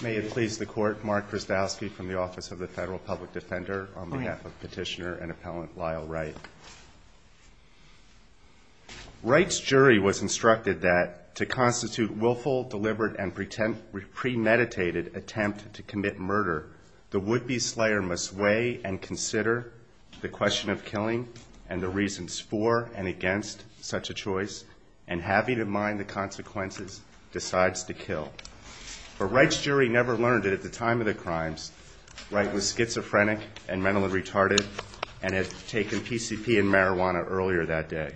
May it please the Court, Mark Krasdowski from the Office of the Federal Public Defender on behalf of Petitioner and Appellant Lyle Wright. Wright's jury was instructed that to constitute willful, deliberate, and premeditated attempt to commit murder, the would-be slayer must weigh and consider the question of killing and the reasons for and against such a choice, and having in mind the consequences, decides to kill. But Wright's jury never learned that at the time of the crimes, Wright was schizophrenic and mentally retarded and had taken PCP and marijuana earlier that day.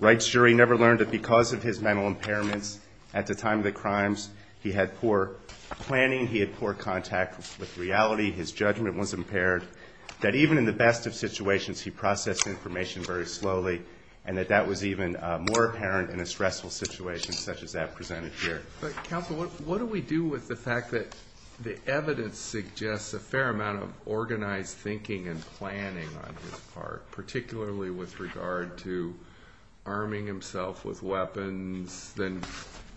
Wright's jury never learned that because of his mental impairments at the time of the crimes, he had poor planning, he had poor contact with reality, his judgment was impaired, that even in the best of situations, he processed information very slowly, and that that was even more apparent in a stressful situation such as that presented here. But counsel, what do we do with the fact that the evidence suggests a fair amount of organized thinking and planning on his part, particularly with regard to arming himself with weapons than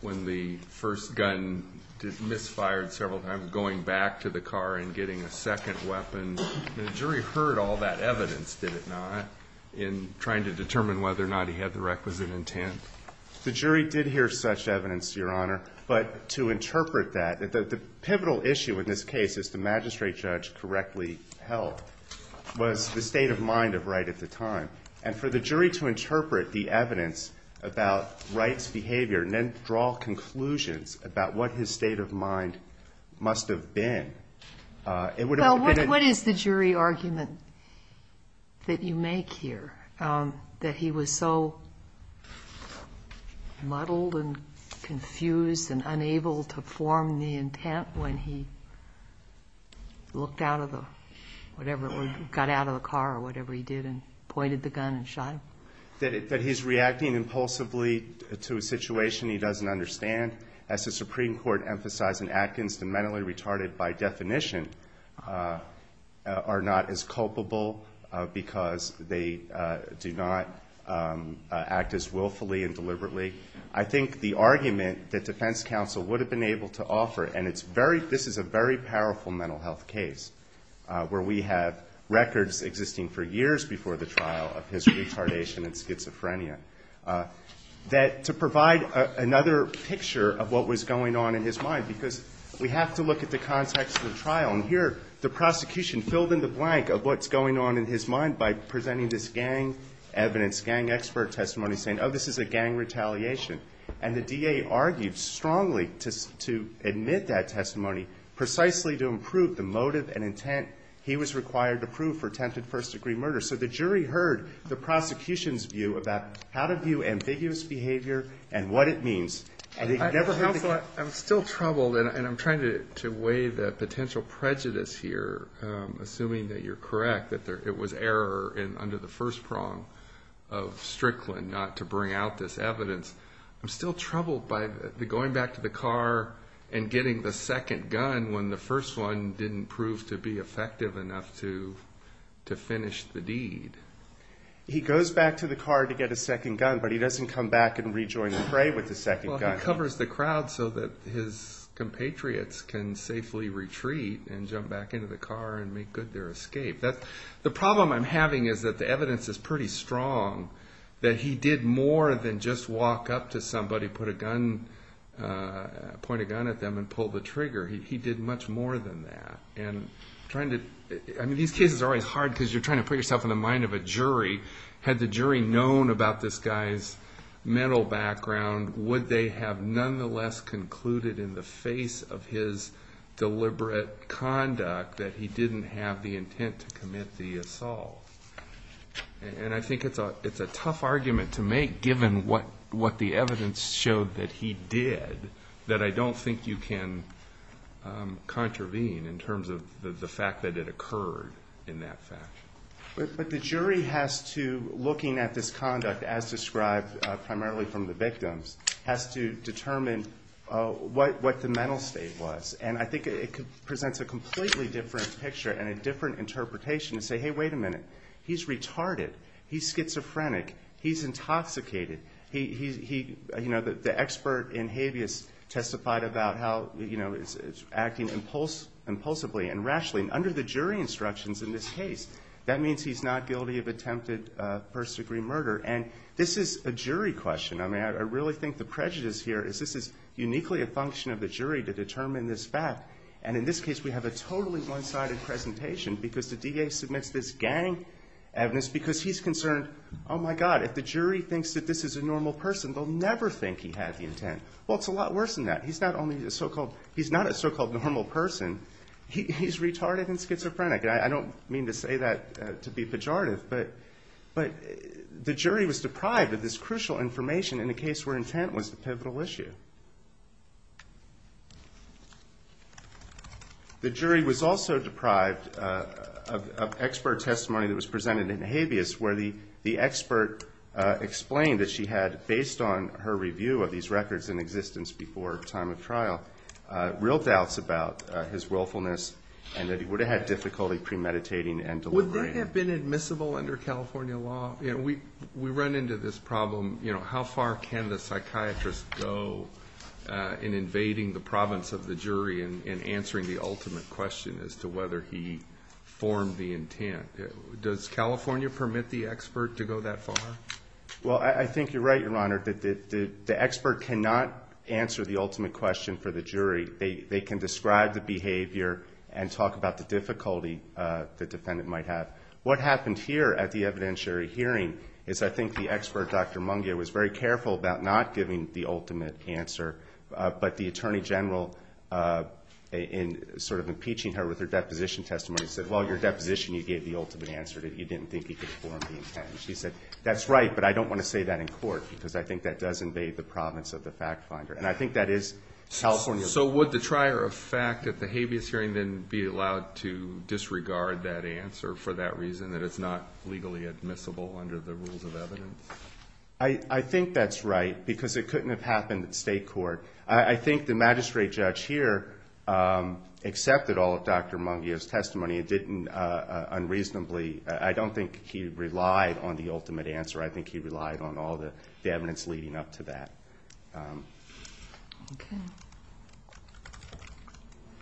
when the first gun misfired several times, going back to the car and getting a second weapon? The jury heard all that evidence, did it not, in trying to determine whether or not he had the requisite intent? The jury did hear such evidence, Your Honor. But to interpret that, the pivotal issue in this case is the magistrate judge correctly held was the state of mind of Wright at the time of his behavior, and then draw conclusions about what his state of mind must have been. Well, what is the jury argument that you make here, that he was so muddled and confused and unable to form the intent when he looked out of the, whatever it was, got out of the car or whatever he did and pointed the gun and shot him? That he's reacting impulsively to a situation he doesn't understand, as the Supreme Court emphasized in Atkins, the mentally retarded, by definition, are not as culpable because they do not act as willfully and deliberately. I think the argument that defense counsel would have been able to offer, and it's very, this is a very powerful mental health case where we have records existing for years before the trial of his retardation and schizophrenia, that to provide another picture of what was going on in his mind, because we have to look at the context of the trial. And here, the prosecution filled in the blank of what's going on in his mind by presenting this gang evidence, gang expert testimony, saying, oh, this is a gang retaliation. And the DA argued strongly to admit that testimony precisely to improve the motive and intent he was required to prove for attempted first-degree murder. So the jury heard the prosecution's view about how to view ambiguous behavior and what it means, and he could never have thought. I'm still troubled, and I'm trying to weigh the potential prejudice here, assuming that you're correct, that it was error under the first prong of Strickland not to bring out this evidence. I'm still troubled by the going back to the car and getting the second gun when the first one didn't prove to be effective enough to finish the deed. He goes back to the car to get a second gun, but he doesn't come back and rejoin the fray with the second gun. Well, he covers the crowd so that his compatriots can safely retreat and jump back into the car and make good their escape. The problem I'm having is that the evidence is pretty strong that he did more than just walk up to somebody, put a gun, point a gun at them and pull the trigger. He did much more than that. These cases are always hard because you're trying to put yourself in the mind of a jury. Had the jury known about this guy's mental background, would they have nonetheless concluded in the face of his deliberate conduct that he didn't have the intent to commit the assault? I think it's a tough argument to make, given what the evidence showed that he did, that I don't think you can contravene in terms of the fact that it occurred in that fashion. But the jury has to, looking at this conduct as described primarily from the victims, has to determine what the mental state was. I think it presents a completely different picture and a different interpretation to say, hey, wait a minute. He's retarded. He's schizophrenic. He's intoxicated. The expert in habeas testified about how he's acting impulsively and rashly. Under the jury instructions in this case, that means he's not guilty of attempted first-degree murder. This is a jury question. I really think the prejudice here is this is uniquely a function of the jury to determine this fact. In this case, we have a totally one-sided presentation because the DA submits this gang evidence because he's concerned, oh, my God, if the jury thinks that this is a normal person, they'll never think he had the intent. Well, it's a lot worse than that. He's not a so-called normal person. He's retarded and schizophrenic. I don't mean to say that to be pejorative, but the jury was deprived of this crucial information in a case where intent was the pivotal issue. The jury was also deprived of expert testimony that was presented in habeas where the expert explained that she had, based on her review of these records in existence before time of trial, real doubts about his willfulness and that he would have had difficulty premeditating and deliberating. Would that have been admissible under California law? We run into this problem. How far can a psychiatrist go in invading the province of the jury and answering the ultimate question as to whether he formed the intent? Does California permit the expert to go that far? Well, I think you're right, Your Honor, that the expert cannot answer the ultimate question for the jury. They can describe the behavior and talk about the difficulty the defendant might have. What happened here at the evidentiary hearing is I think the expert, Dr. Mungia, was very careful about not giving the ultimate answer, but the Attorney General, in sort of impeaching her with her deposition testimony, said, well, your deposition, you gave the ultimate answer that you didn't think he could form the intent. She said, that's right, but I don't want to say that in court because I think that does invade the province of the fact finder. And I think that is California law. So would the trier of fact at the habeas hearing then be allowed to disregard that answer for that reason, that it's not legally admissible under the rules of evidence? I think that's right because it couldn't have happened at state court. I think the magistrate judge here accepted all of Dr. Mungia's testimony and didn't unreasonably, I don't think he relied on the ultimate answer. I think he relied on all the evidence leading up to that.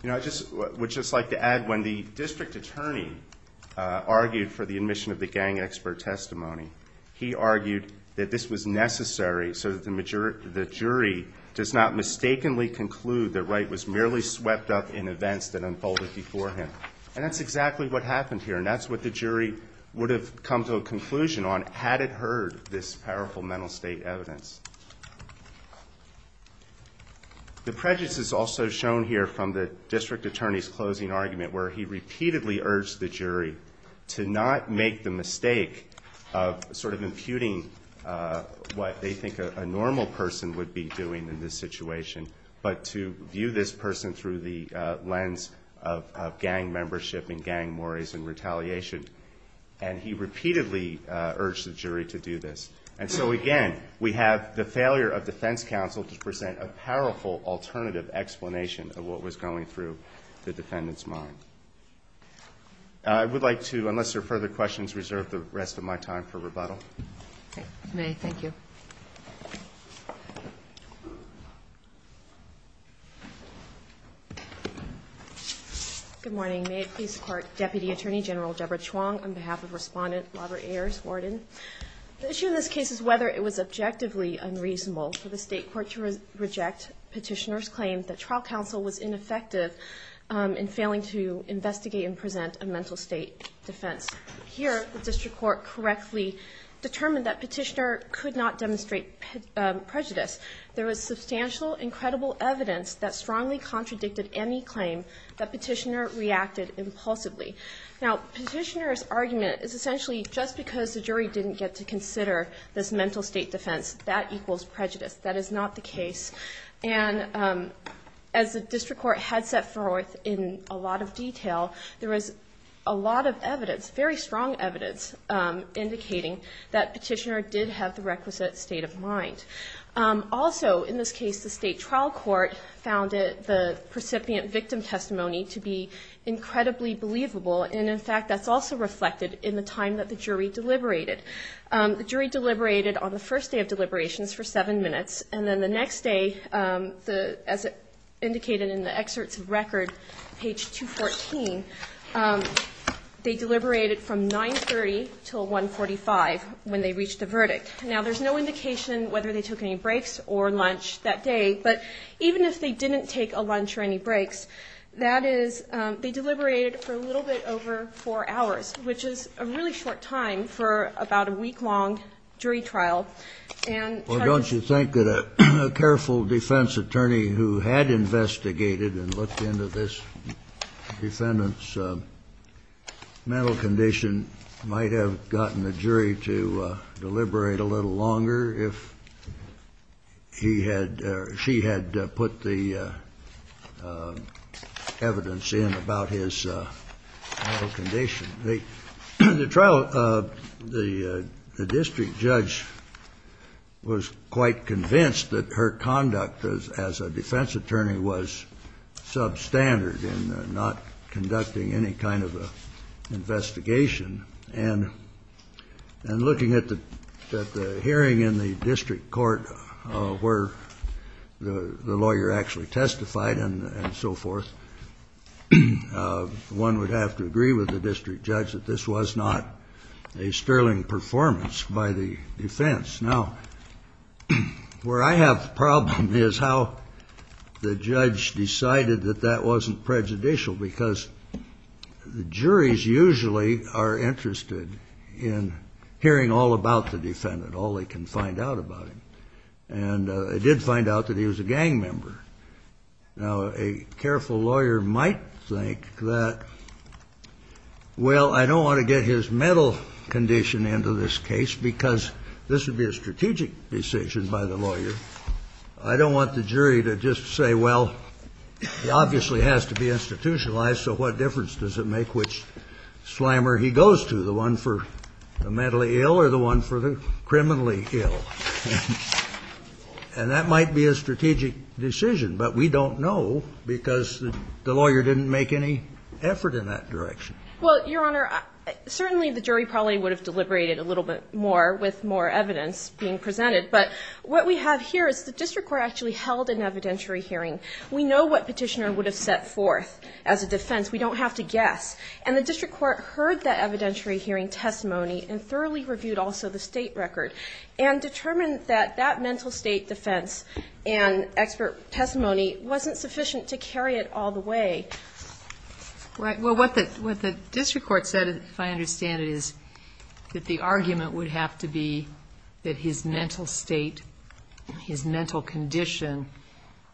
You know, I would just like to add, when the district attorney argued for the admission of the gang expert testimony, he argued that this was necessary so that the jury does not mistakenly conclude that Wright was merely swept up in events that unfolded before him. And that's exactly what happened here, and that's what the jury would have come to a conclusion on had it heard this powerful mental state evidence. The prejudice is also shown here from the district attorney's closing argument where he repeatedly urged the jury to not make the mistake of sort of imputing what they think a normal person would be doing in this situation, but to view this person through the lens of gang membership and gang worries and retaliation. And he repeatedly urged the jury to do this. And so again, we have the failure of defense counsel to present a powerful alternative explanation of what was going through the defendant's mind. I would like to, unless there are further questions, reserve the rest of my time for rebuttal. May, thank you. Good morning. May it please the Court, Deputy Attorney General Deborah Chuang, on behalf of Respondent Robert Ayers, Warden. The issue in this case is whether it was objectively unreasonable for the State Court to reject Petitioner's claim that trial counsel was ineffective in failing to investigate and present a mental state defense. Here the District Court correctly determined that Petitioner could not demonstrate prejudice. There was substantial, incredible evidence that strongly contradicted any claim that Petitioner reacted impulsively. Now, Petitioner's argument is essentially just because the jury didn't get to consider this mental state defense, that equals prejudice. That is not the case. And as the District Court had set forth in a lot of detail, there was a lot of evidence, very strong evidence, indicating that Petitioner did have the requisite state of mind. Also in this case, the State Trial Court found the precipient victim testimony to be incredibly believable. And in fact, that's also reflected in the time that the jury deliberated. The jury deliberated on the first day of deliberations for seven minutes. And then the next day, as indicated in the excerpts of record, page 214, they deliberated from 9.30 until 1.45 when they reached a verdict. Now, there's no indication whether they took any breaks or lunch that day. But even if they didn't take a lunch or any breaks, that is, they deliberated for a little bit longer, over four hours, which is a really short time for about a week-long jury trial. And Charles was going to say that the jury deliberated for a little bit longer than that. Well, don't you think that a careful defense attorney who had investigated and looked into this defendant's mental condition might have gotten the jury to deliberate a little longer if he had or she had put the evidence in about his mental state of mind? Mental condition. The trial, the district judge was quite convinced that her conduct as a defense attorney was substandard in not conducting any kind of an investigation. And looking at the hearing in the district court where the lawyer actually testified and so forth, one would have to agree with the district judge that this was not a sterling performance by the defense. Now, where I have the problem is how the judge decided that that wasn't prejudicial, because the juries usually are interested in hearing all about the defendant, all they can find out about him. And I did find out that he was a gang member. Now, a careful lawyer might think that, well, I don't want to get his mental condition into this case because this would be a strategic decision by the lawyer. I don't want the jury to just say, well, he obviously has to be institutionalized, so what difference does it make which slammer he goes to, the one for the mentally ill or the one for the criminally ill? And that might be a strategic decision, but we don't know because the lawyer didn't make any effort in that direction. Well, Your Honor, certainly the jury probably would have deliberated a little bit more with more evidence being presented. But what we have here is the district court actually held an evidentiary hearing. We know what Petitioner would have set forth as a defense. We don't have to guess. And the district court heard that evidentiary hearing testimony and thoroughly reviewed also the State record and determined that that mental State defense and expert testimony wasn't sufficient to carry it all the way. Well, what the district court said, if I understand it, is that the argument would have to be that his mental State, his mental condition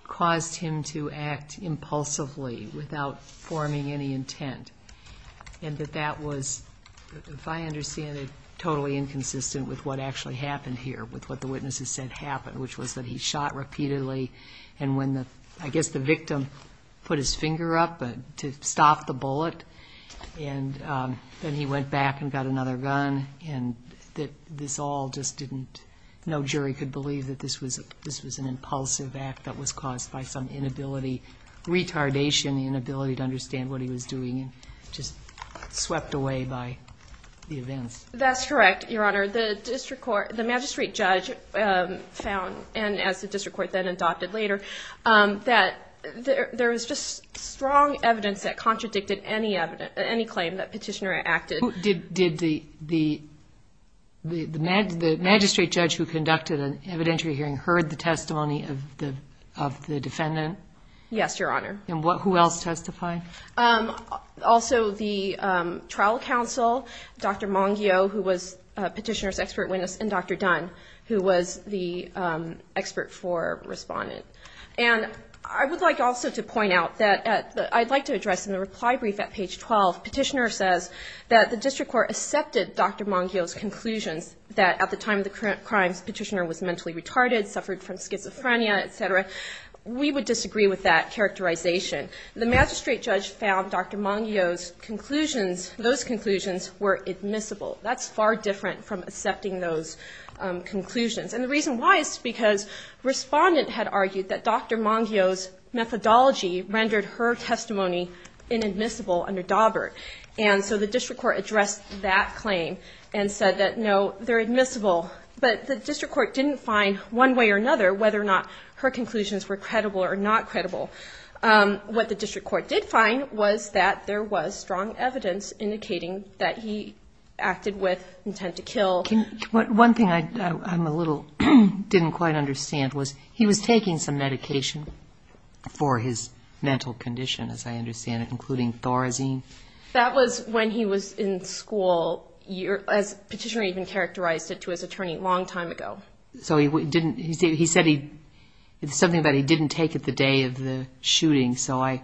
caused him to act impulsively without forming any intent. And that that was, if I understand it, totally inconsistent with what actually happened here, with what the witnesses said happened, which was that he shot repeatedly. And when the, I guess the victim put his finger up to stop the bullet, and then he went back and got another gun, and that this all just didn't, no jury could question the inability to understand what he was doing and just swept away by the events. That's correct, Your Honor. The district court, the magistrate judge found, and as the district court then adopted later, that there was just strong evidence that contradicted any claim that Petitioner acted. Did the magistrate judge who conducted an evidentiary hearing heard the testimony of the defendant? Yes, Your Honor. And who else testified? Also the trial counsel, Dr. Mongio, who was Petitioner's expert witness, and Dr. Dunn, who was the expert for Respondent. And I would like also to point out that at the, I'd like to address in the reply brief at page 12, Petitioner says that the district court accepted Dr. Mongio's conclusions that at the time of the crimes, Petitioner was mentally retarded, suffered from schizophrenia, et cetera. We would disagree with that characterization. The magistrate judge found Dr. Mongio's conclusions, those conclusions were admissible. That's far different from accepting those conclusions. And the reason why is because Respondent had argued that Dr. Mongio's methodology rendered her testimony inadmissible under Dawbert. And so the district court addressed that claim and said that, no, they're admissible. But the district court didn't find one way or another whether or not her conclusions were credible or not credible. What the district court did find was that there was strong evidence indicating that he acted with intent to kill. One thing I'm a little, didn't quite understand was he was taking some medication for his mental condition, as I understand it, including Thorazine? That was when he was in school, as Petitioner even characterized it to his attorney at long time ago. So he didn't, he said he, it's something that he didn't take at the day of the shooting, so I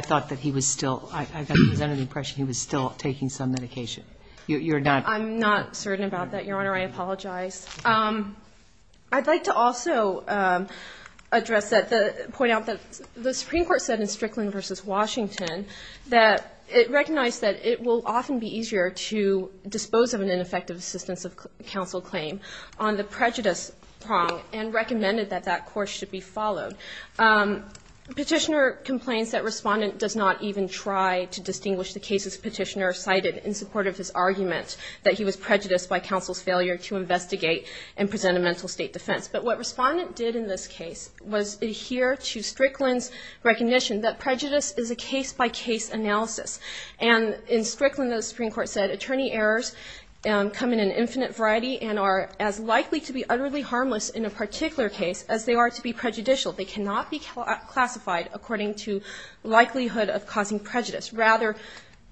thought that he was still, I got the impression he was still taking some medication. You're not? I'm not certain about that, Your Honor. I apologize. I'd like to also address that, point out that the Supreme Court said in Strickland v. Washington that it recognized that it will on the prejudice prong and recommended that that court should be followed. Petitioner complains that Respondent does not even try to distinguish the cases Petitioner cited in support of his argument that he was prejudiced by counsel's failure to investigate and present a mental state defense. But what Respondent did in this case was adhere to Strickland's recognition that prejudice is a case-by-case analysis. And in Strickland, the Supreme Court said attorney errors come in an infinite variety and are as likely to be utterly harmless in a particular case as they are to be prejudicial. They cannot be classified according to likelihood of causing prejudice. Rather,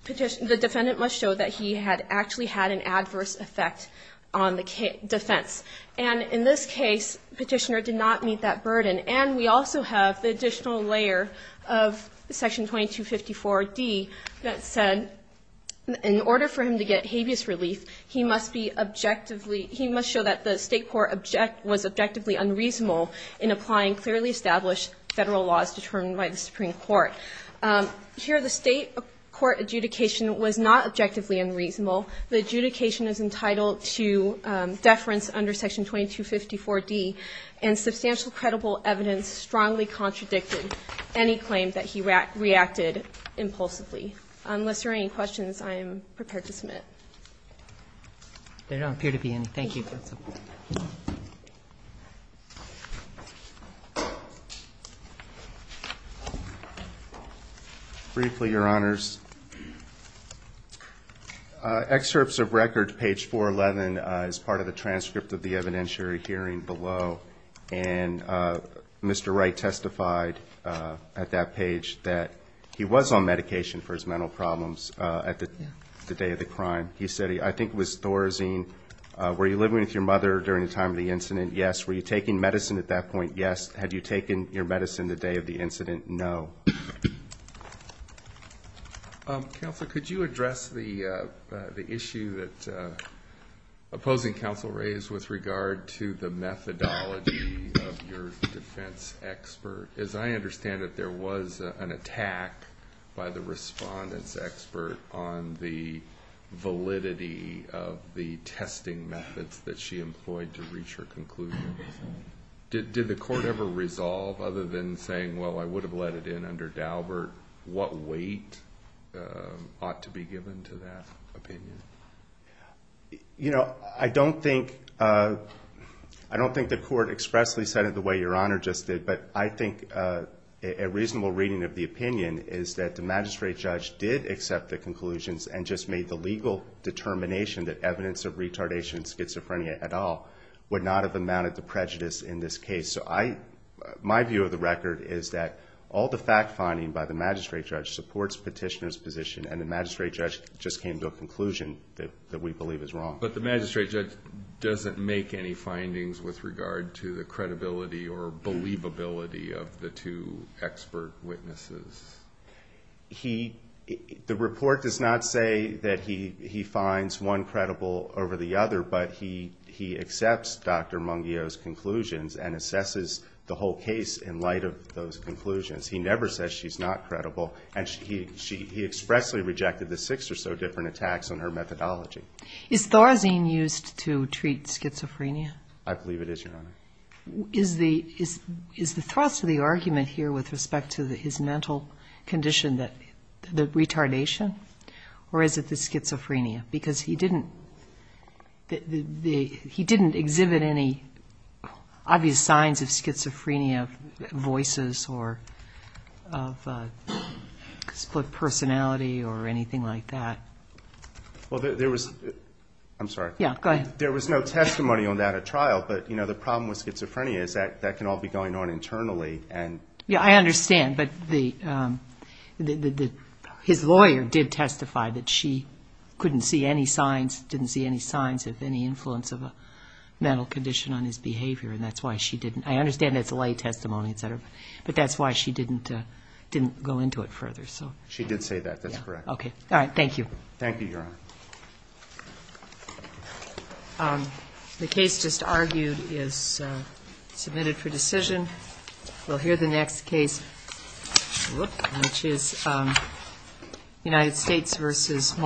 the defendant must show that he had actually had an adverse effect on the defense. And in this case, Petitioner did not meet that burden. And we also have the additional layer of Section 2254d that said in order for him to get habeas relief, he must be objectively he must show that the State court object was objectively unreasonable in applying clearly established Federal laws determined by the Supreme Court. Here the State court adjudication was not objectively unreasonable. The adjudication is entitled to deference under Section 2254d. And substantial credible evidence strongly contradicted any claim that he reacted impulsively. Unless there are any questions, I am prepared to submit. There don't appear to be any. Thank you, counsel. Briefly, Your Honors. Excerpts of record, page 411, is part of the transcript of the evidentiary hearing below. And Mr. Wright testified at that page that he was on medication for his mental problems at the day of the crime. He said, I think it was Thorazine, were you living with your mother during the time of the incident? Yes. Were you taking medicine at that point? Yes. Had you taken your medicine the day of the incident? No. Counsel, could you address the issue that opposing counsel raised with regard to the methodology of your defense expert? As I understand it, there was an attack by the respondent's expert on the validity of the testing methods that she employed to reach her conclusion. Did the court ever resolve, other than saying, well, I would have let it in under Daubert, what weight ought to be given to that opinion? You know, I don't think the court expressly said it the way Your Honor just did. But I think a reasonable reading of the opinion is that the magistrate judge did accept the conclusions and just made the legal determination that evidence of retardation and schizophrenia at all would not have amounted to prejudice in this case. So my view of the record is that all the fact finding by the magistrate judge supports Petitioner's position and the magistrate judge just came to a conclusion that we believe is wrong. But the magistrate judge doesn't make any witnesses. He, the report does not say that he finds one credible over the other, but he accepts Dr. Mungio's conclusions and assesses the whole case in light of those conclusions. He never says she's not credible. And he expressly rejected the six or so different attacks on her methodology. Is Thorazine used to treat schizophrenia? I believe it is, Your Honor. Is the thrust of the argument here with respect to his mental condition, the retardation, or is it the schizophrenia? Because he didn't exhibit any obvious signs of schizophrenia, voices, or split personality or anything like that. Well, there was, I'm sorry. Yeah, go ahead. There was no testimony on that at trial, but, you know, the problem with schizophrenia is that that can all be going on internally and Yeah, I understand. But his lawyer did testify that she couldn't see any signs, didn't see any signs of any influence of a mental condition on his behavior, and that's why she didn't I understand it's a lay testimony, et cetera, but that's why she didn't go into it further. She did say that. That's correct. Thank you, Your Honor. The case just argued is submitted for decision. We'll hear the next case, which is United States v. Marshall.